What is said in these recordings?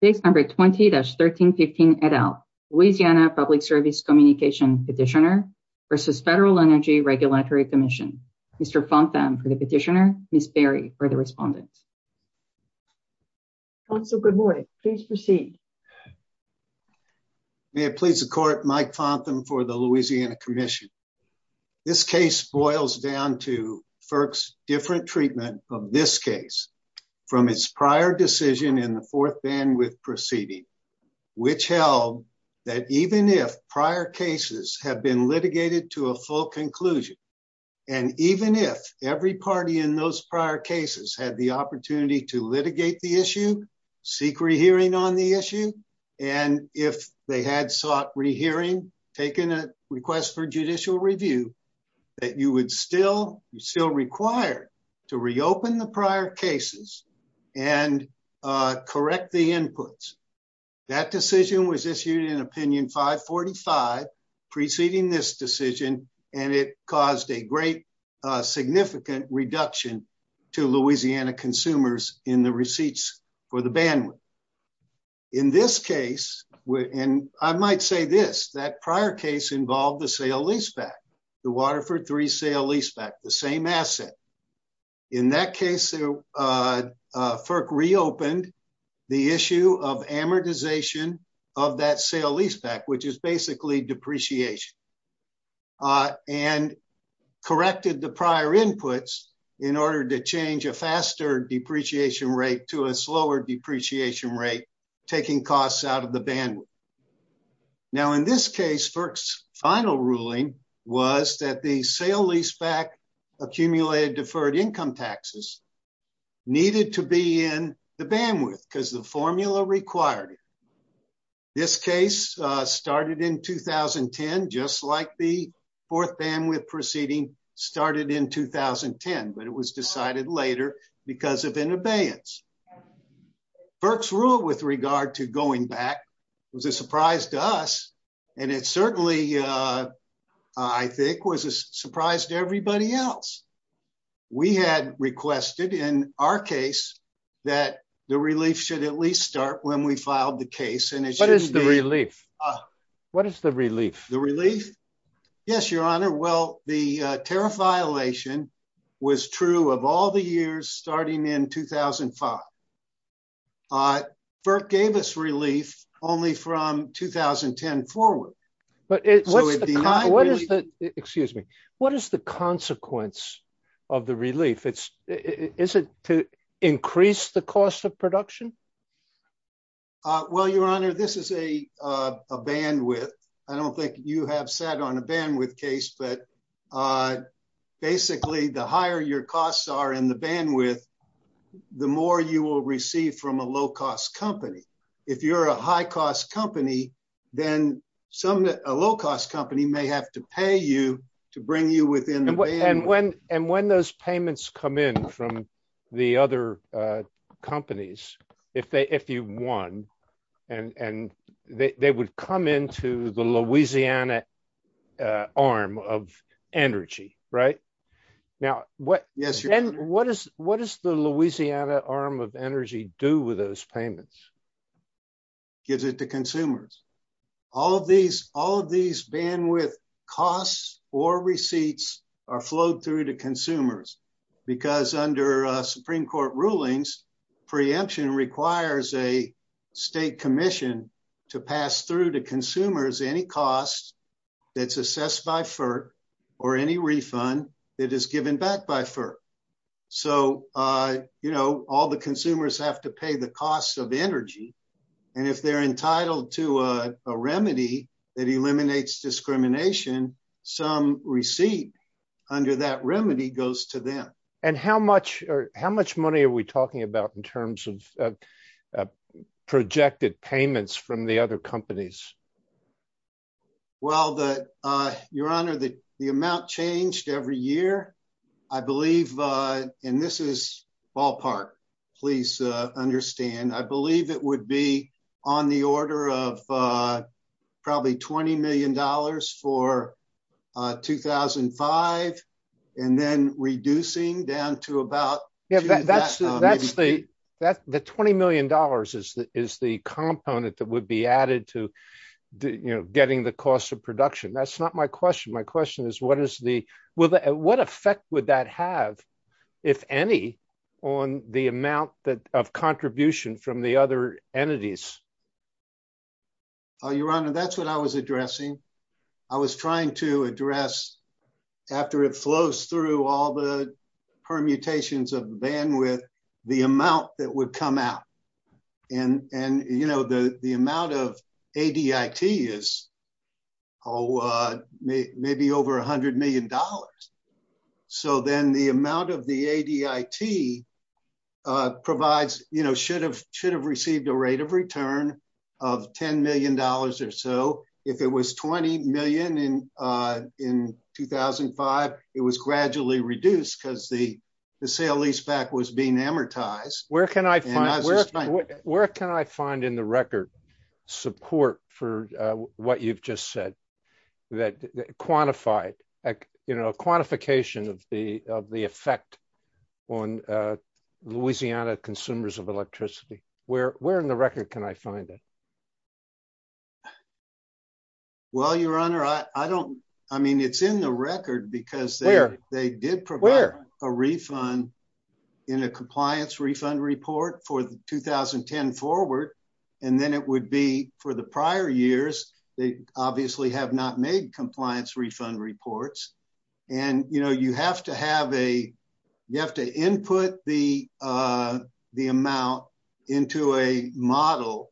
Page number 20-1315 et al. Louisiana Public Service Communication Petitioner versus Federal Energy Regulatory Commission. Mr. Fontham for the petitioner, Ms. Berry for the respondent. Counsel, good morning. Please proceed. May it please the court, Mike Fontham for the Louisiana Commission. This case boils down to FERC's different treatment of this case from its prior decision in the fourth bandwidth proceeding, which held that even if prior cases have been litigated to a full conclusion, and even if every party in those prior cases had the opportunity to litigate the issue, seek rehearing on the issue, and if they had sought rehearing, taken a request for judicial review, that you would still, you're still required to reopen the prior cases and correct the inputs. That decision was issued in opinion 545 preceding this decision, and it caused a great significant reduction to Louisiana consumers in the receipts for the bandwidth. In this case, and I might say this, that prior case involved sale leaseback, the Waterford 3 sale leaseback, the same asset. In that case, FERC reopened the issue of amortization of that sale leaseback, which is basically depreciation, and corrected the prior inputs in order to change a faster depreciation rate to a slower depreciation rate, taking costs out of the bandwidth. Now in this case, FERC's final ruling was that the sale leaseback accumulated deferred income taxes needed to be in the bandwidth because the formula required it. This case started in 2010, just like the fourth bandwidth proceeding started in 2010, but it was decided later because of an abeyance. FERC's rule with regard to going back was a surprise to us, and it certainly, I think, was a surprise to everybody else. We had requested in our case that the relief should at least start when we filed the case. What is the relief? What is the relief? The relief? Yes, Your Honor. Well, the tariff violation was true of all the years starting in 2005. FERC gave us relief only from 2010 forward. Excuse me. What is the consequence of the relief? Is it to increase the cost of production? Well, Your Honor, this is a bandwidth. I don't think you have sat on a bandwidth case, but basically, the higher your costs are in the bandwidth, the more you will receive from a low-cost company. If you're a high-cost company, then a low-cost company may have to pay you to bring you within the bandwidth. And when those payments come in from the other companies, if you won, they would come into the Louisiana arm of energy. What does the Louisiana arm of energy do with those payments? Gives it to consumers. All of these bandwidth costs or receipts are flowed through to consumers because under Supreme Court rulings, preemption requires a state commission to pass through to consumers any costs that's assessed by FERC or any refund that is given back by FERC. So, you know, all the consumers have to pay the cost of energy. And if they're entitled to a And how much money are we talking about in terms of projected payments from the other companies? Well, Your Honor, the amount changed every year. I believe, and this is ballpark, please understand. I believe it would be on the order of probably $20 million for 2005 and then reducing down to about... The $20 million is the component that would be added to getting the cost of production. That's not my question. My question is, what effect would that have, if any, on the amount of contribution from the other entities? Your Honor, that's what I was addressing. I was trying to address, after it flows through all the permutations of bandwidth, the amount that would come out. And, you know, the amount of ADIT is maybe over $100 million. So then the amount of the ADIT provides, you know, should have received a rate of return of $10 million or so. If it was $20 million in 2005, it was gradually reduced because the sale leaseback was being amortized. Where can I find in the record support for what you've just said, that quantified, you know, quantification of the effect on Louisiana consumers of electricity? Where in the record can I find it? Well, Your Honor, I don't... I mean, it's in the record because they did provide a refund in a compliance refund report for the 2010 forward. And then it would be for the prior years, they obviously have not made compliance refund reports. And, you know, you have to have a... the amount into a model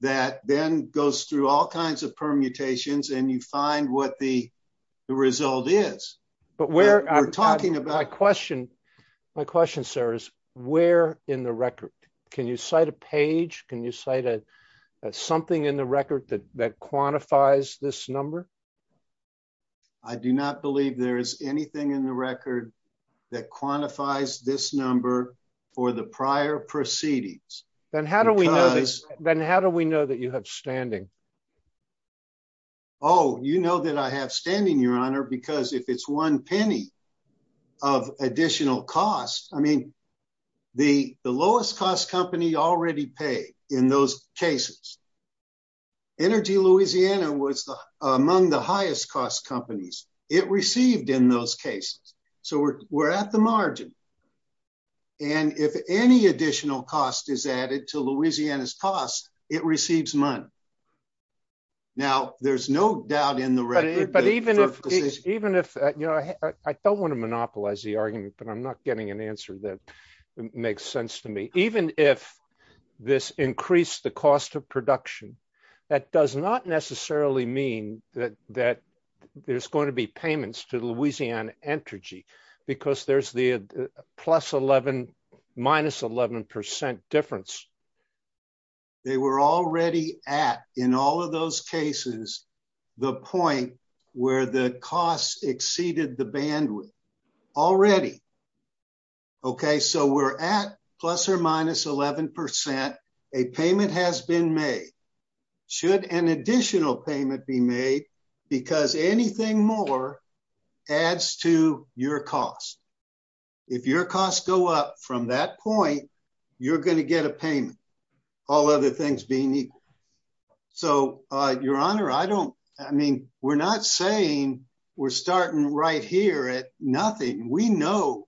that then goes through all kinds of permutations and you find what the result is. But we're talking about... My question, sir, is where in the record? Can you cite a page? Can you cite something in the record that quantifies this number? I do not believe there is anything in the record that quantifies this number for the prior proceedings. Then how do we know that you have standing? Oh, you know that I have standing, Your Honor, because if it's one penny of additional cost, I mean, the lowest cost company already paid in those cases. Energy Louisiana was among the highest cost companies. It received in those cases. So we're at the margin. And if any additional cost is added to Louisiana's cost, it receives money. Now, there's no doubt in the record... But even if... I don't want to monopolize the argument, but I'm not getting an answer that makes sense to me. Even if this increased the cost of production, that does not necessarily mean that there's going to be payments to Louisiana Entergy because there's the plus 11, minus 11% difference. They were already at, in all of those cases, the point where the cost exceeded the bandwidth already. Okay. So we're at plus or minus 11%. A payment has been made. Should an additional payment be made? Because anything more adds to your cost. If your costs go up from that point, you're going to get a payment, all other things being equal. So, Your Honor, I don't... I mean, we're not saying we're starting right here at nothing. We know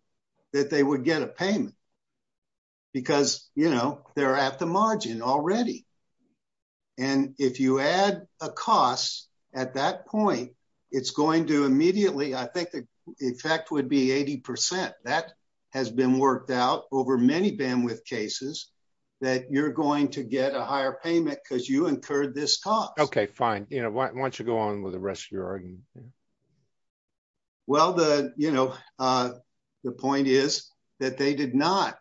that they would get a payment because they're at the margin already. And if you add a cost at that point, it's going to immediately... I think the effect would be 80%. That has been worked out over many bandwidth cases that you're going to get a higher payment because you incurred this cost. Okay, fine. Why don't you go on with the rest of your argument? Okay. Well, the point is that they did not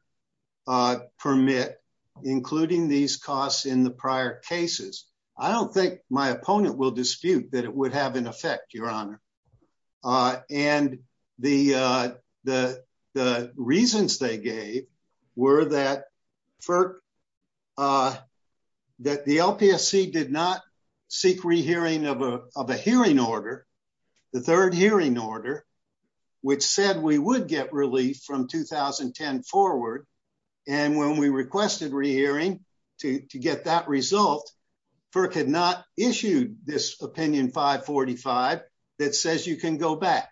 permit, including these costs in the prior cases. I don't think my opponent will dispute that it would have an effect, Your Honor. And the reasons they gave were that the LPSC did not seek rehearing of a hearing order, the third hearing order, which said we would get relief from 2010 forward. And when we requested rehearing to get that result, FERC had not issued this Opinion 545 that says you can go back.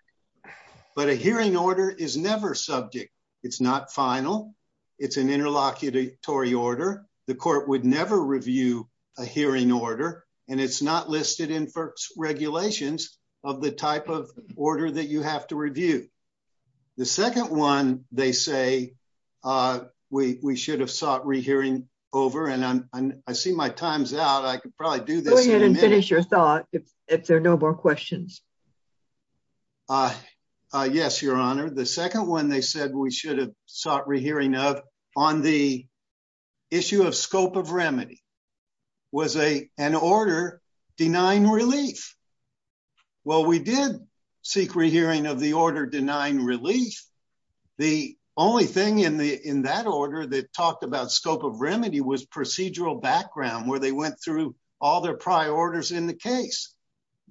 But a hearing order is subject. It's not final. It's an interlocutory order. The court would never review a hearing order. And it's not listed in FERC's regulations of the type of order that you have to review. The second one, they say we should have sought rehearing over. And I see my time's out. I could probably do this in a minute. Go ahead and finish your thought if there are no more questions. Yes, Your Honor. The second one they said we should have sought rehearing of on the issue of scope of remedy was an order denying relief. Well, we did seek rehearing of the order denying relief. The only thing in that order that talked about scope of remedy was procedural background where they went through all their prior orders in the case.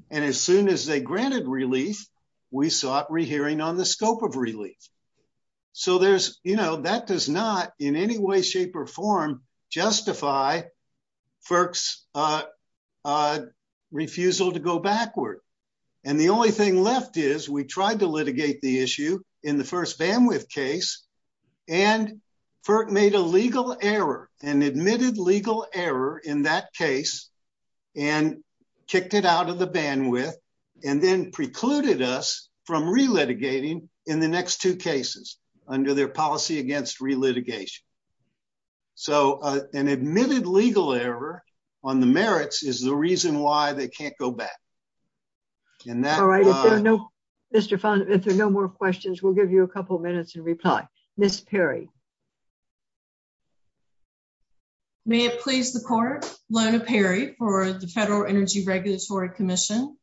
And as soon as they granted relief, we sought rehearing on the scope of relief. So that does not in any way, shape or form justify FERC's refusal to go backward. And the only thing left is we tried to litigate the issue in the first bandwidth case. And FERC made a legal error and admitted legal error in that case and kicked it out of the bandwidth and then precluded us from re litigating in the next two cases under their policy against re litigation. So an admitted legal error on the merits is the reason why they can't go back in that. All right. No, Mr. Fund. If there are no questions, we'll give you a couple minutes and reply. Miss Perry. May it please the court, Lona Perry for the Federal Energy Regulatory Commission.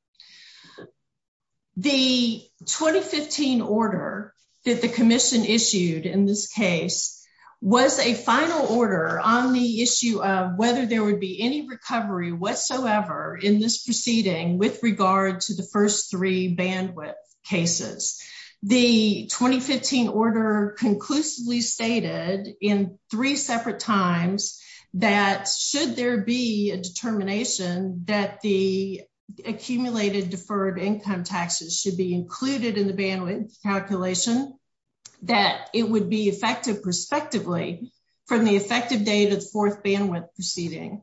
The 2015 order that the commission issued in this case was a final order on the issue of whether there would be any recovery whatsoever in this proceeding with regard to the first three bandwidth cases. The 2015 order conclusively stated in three separate times that should there be a determination that the accumulated deferred income taxes should be included in the bandwidth calculation, that it would be effective prospectively from the effective date of the fourth bandwidth proceeding.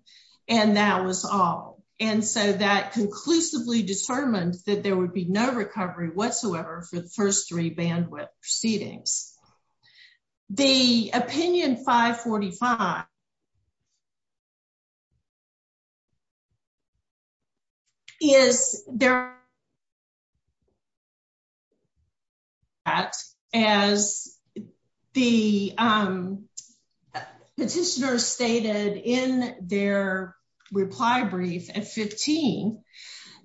And that was all. And so that conclusively determined that there would be no recovery whatsoever for the first three bandwidth proceedings. The opinion 545 is there. As the petitioner stated in their reply brief at 15,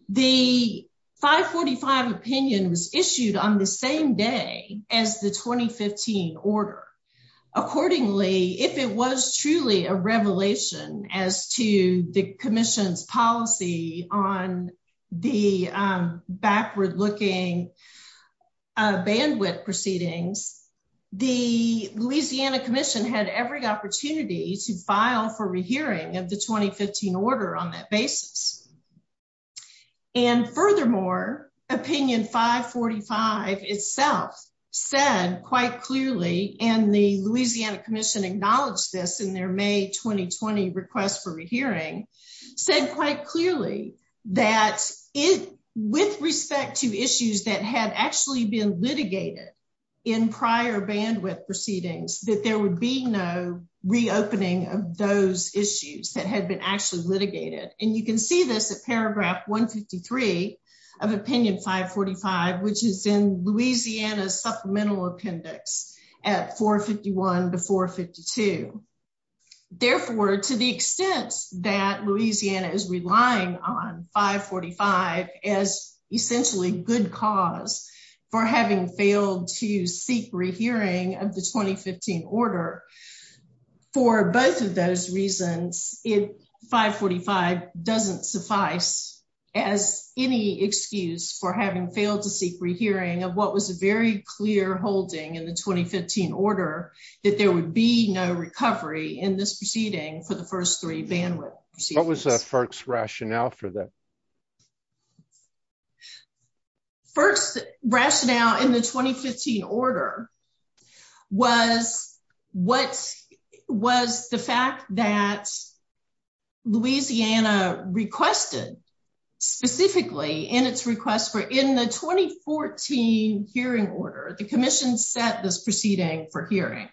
the 545 opinion was issued on the same day as the 2015 order. Accordingly, if it was truly a revelation as to the commission's policy on the backward looking bandwidth proceedings, the Louisiana Commission had every opportunity to file for rehearing of the 2015 order on that basis. And furthermore, opinion 545 itself said quite clearly, and the Louisiana Commission acknowledged this in their May 2020 request for respect to issues that had actually been litigated in prior bandwidth proceedings, that there would be no reopening of those issues that had been actually litigated. And you can see this at paragraph 153 of opinion 545, which is in Louisiana's supplemental appendix at 451 to 452. Therefore, to the extent that Louisiana is relying on 545 as essentially good cause for having failed to seek rehearing of the 2015 order, for both of those reasons, it 545 doesn't suffice as any excuse for having failed to seek rehearing of what was a very holding in the 2015 order, that there would be no recovery in this proceeding for the first three bandwidth. What was FERC's rationale for that? First rationale in the 2015 order was what was the fact that Louisiana requested specifically in its request for in the 2014 hearing order, the commission set this proceeding for hearing.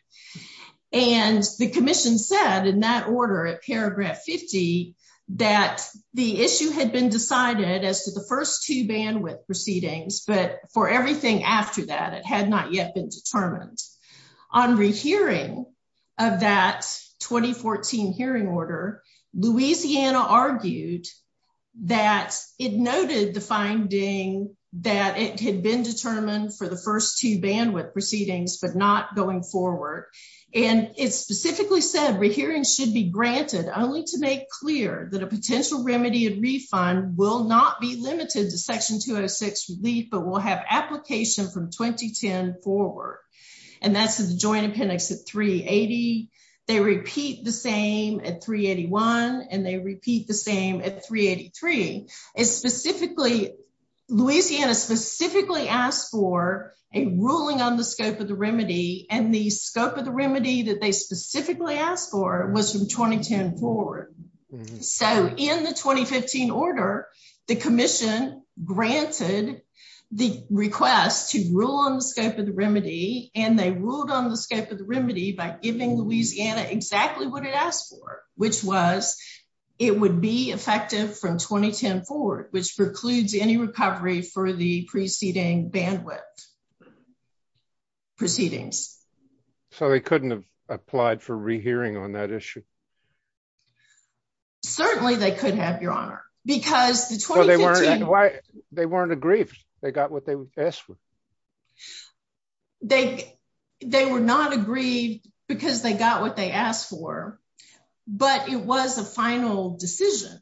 And the commission said in that order at paragraph 50, that the issue had been decided as to the first two bandwidth proceedings, but for everything after that, it had not yet been that it noted the finding that it had been determined for the first two bandwidth proceedings, but not going forward. And it specifically said, rehearing should be granted only to make clear that a potential remedy and refund will not be limited to section 206 relief, but will have application from 2010 forward. And that's the joint appendix at 380. They repeat the same at 381. And they repeat the same at 383 is specifically, Louisiana specifically asked for a ruling on the scope of the remedy and the scope of the remedy that they specifically asked for was from 2010 forward. So in the 2015 order, the commission granted the request to rule on the scope of the remedy, and they ruled on the scope of the remedy by giving Louisiana exactly what it asked for, which was, it would be effective from 2010 forward, which precludes any recovery for the preceding bandwidth. Proceedings. So they couldn't have applied for rehearing on that issue. Certainly they could have your honor, because they weren't, they weren't aggrieved. They got what they asked for. They, they were not aggrieved because they got what they asked for, but it was a final decision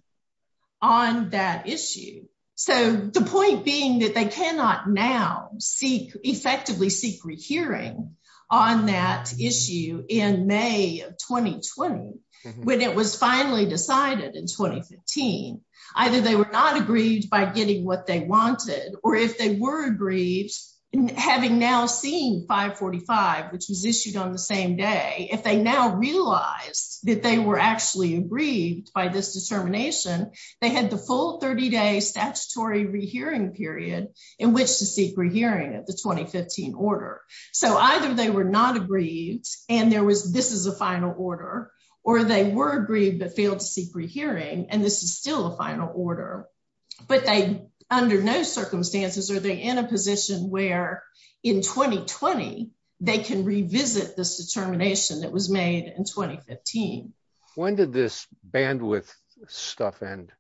on that issue. So the point being that they cannot now seek, effectively seek rehearing on that issue in May of 2020, when it was finally decided in 2015, either they were not aggrieved by getting what they wanted, or if they were aggrieved, having now seen 545, which was issued on the same day, if they now realized that they were actually aggrieved by this determination, they had the full 30 day statutory rehearing period in which to seek rehearing of the 2015 order. So either they were not aggrieved, and there was, this is a final order, or they were aggrieved but failed to seek rehearing, and this is still a final order. But they, under no circumstances are they in a position where in 2020, they can revisit this determination that was made in 2015. When did this bandwidth stuff end?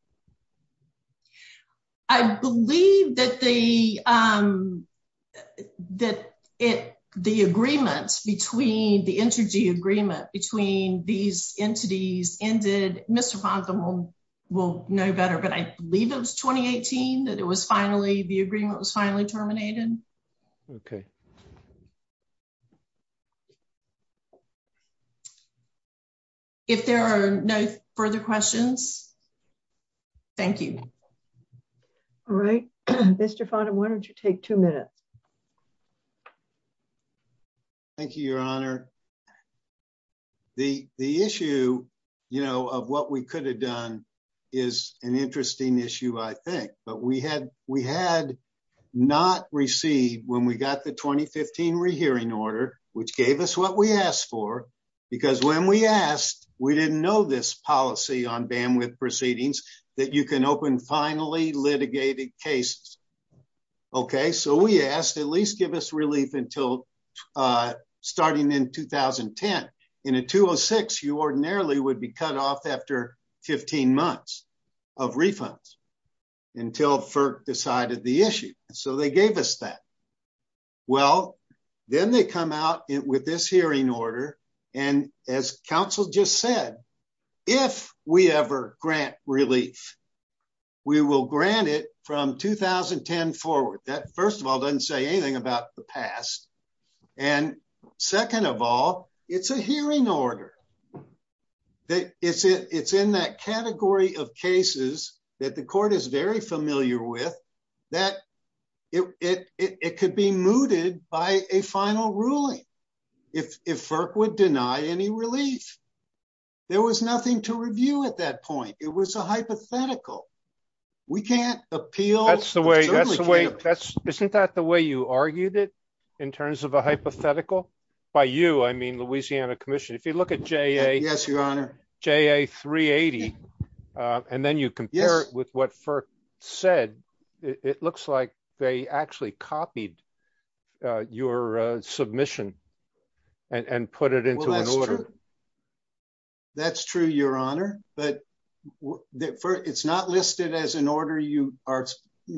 I believe that the, that it, the agreement between, the interagency agreement between these entities ended, Mr. Fontham will know better, but I believe it was 2018 that it was finally, the agreement was finally terminated. Okay. If there are no further questions, thank you. All right, Mr. Fontham, why don't you take two minutes. Thank you, Your Honor. The issue, you know, of what we could have done is an interesting issue, I think, but we had, we had not received when we got the 2015 rehearing order, which gave us what we asked for, because when we asked, we didn't know this policy on bandwidth proceedings that you can open finally litigated cases. Okay, so we asked at least give us relief until starting in 2010. In a 206, you ordinarily would be cut off after 15 months of refunds. Until FERC decided the issue, so they gave us that. Well, then they come out with this hearing order, and as counsel just said, if we ever grant relief, we will grant it from 2010 forward. That first of all doesn't say anything about the past. And second of all, it's a hearing order. That it's it's in that category of cases that the court is very familiar with, that it could be mooted by a final ruling. If FERC would deny any relief. There was nothing to review at that point, it was a hypothetical. We can't appeal. That's the way that's the way that's isn't that the way you argued it in terms of a hypothetical by you, I mean, Louisiana Commission, if you look at JA 380, and then you compare it with what FERC said, it looks like they actually copied your submission and put it into an order. That's true, your honor, but it's not listed as an order you are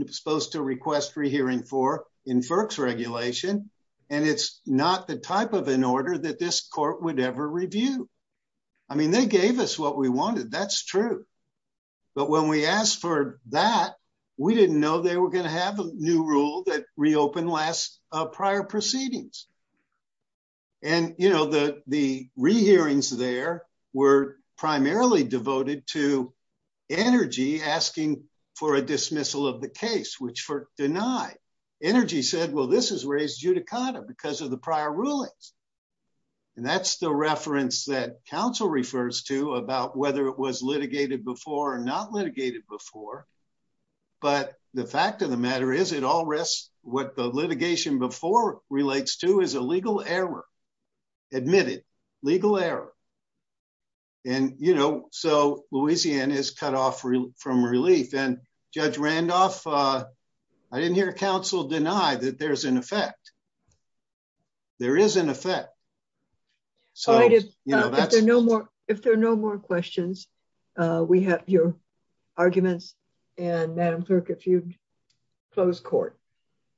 supposed to request rehearing for in FERC's regulation. And it's not the type of an I mean, they gave us what we wanted. That's true. But when we asked for that, we didn't know they were going to have a new rule that reopened last prior proceedings. And you know, the the rehearings there were primarily devoted to energy asking for a dismissal of the case, which FERC denied. Energy said, well, this is raised judicata because of prior rulings. And that's the reference that counsel refers to about whether it was litigated before or not litigated before. But the fact of the matter is it all risks what the litigation before relates to is a legal error, admitted legal error. And you know, so Louisiana is cut off from relief. And Judge Randolph, I didn't hear counsel deny that there's an effect. There is an effect. So if there are no more questions, we have your arguments. And Madam Clerk, if you'd close court.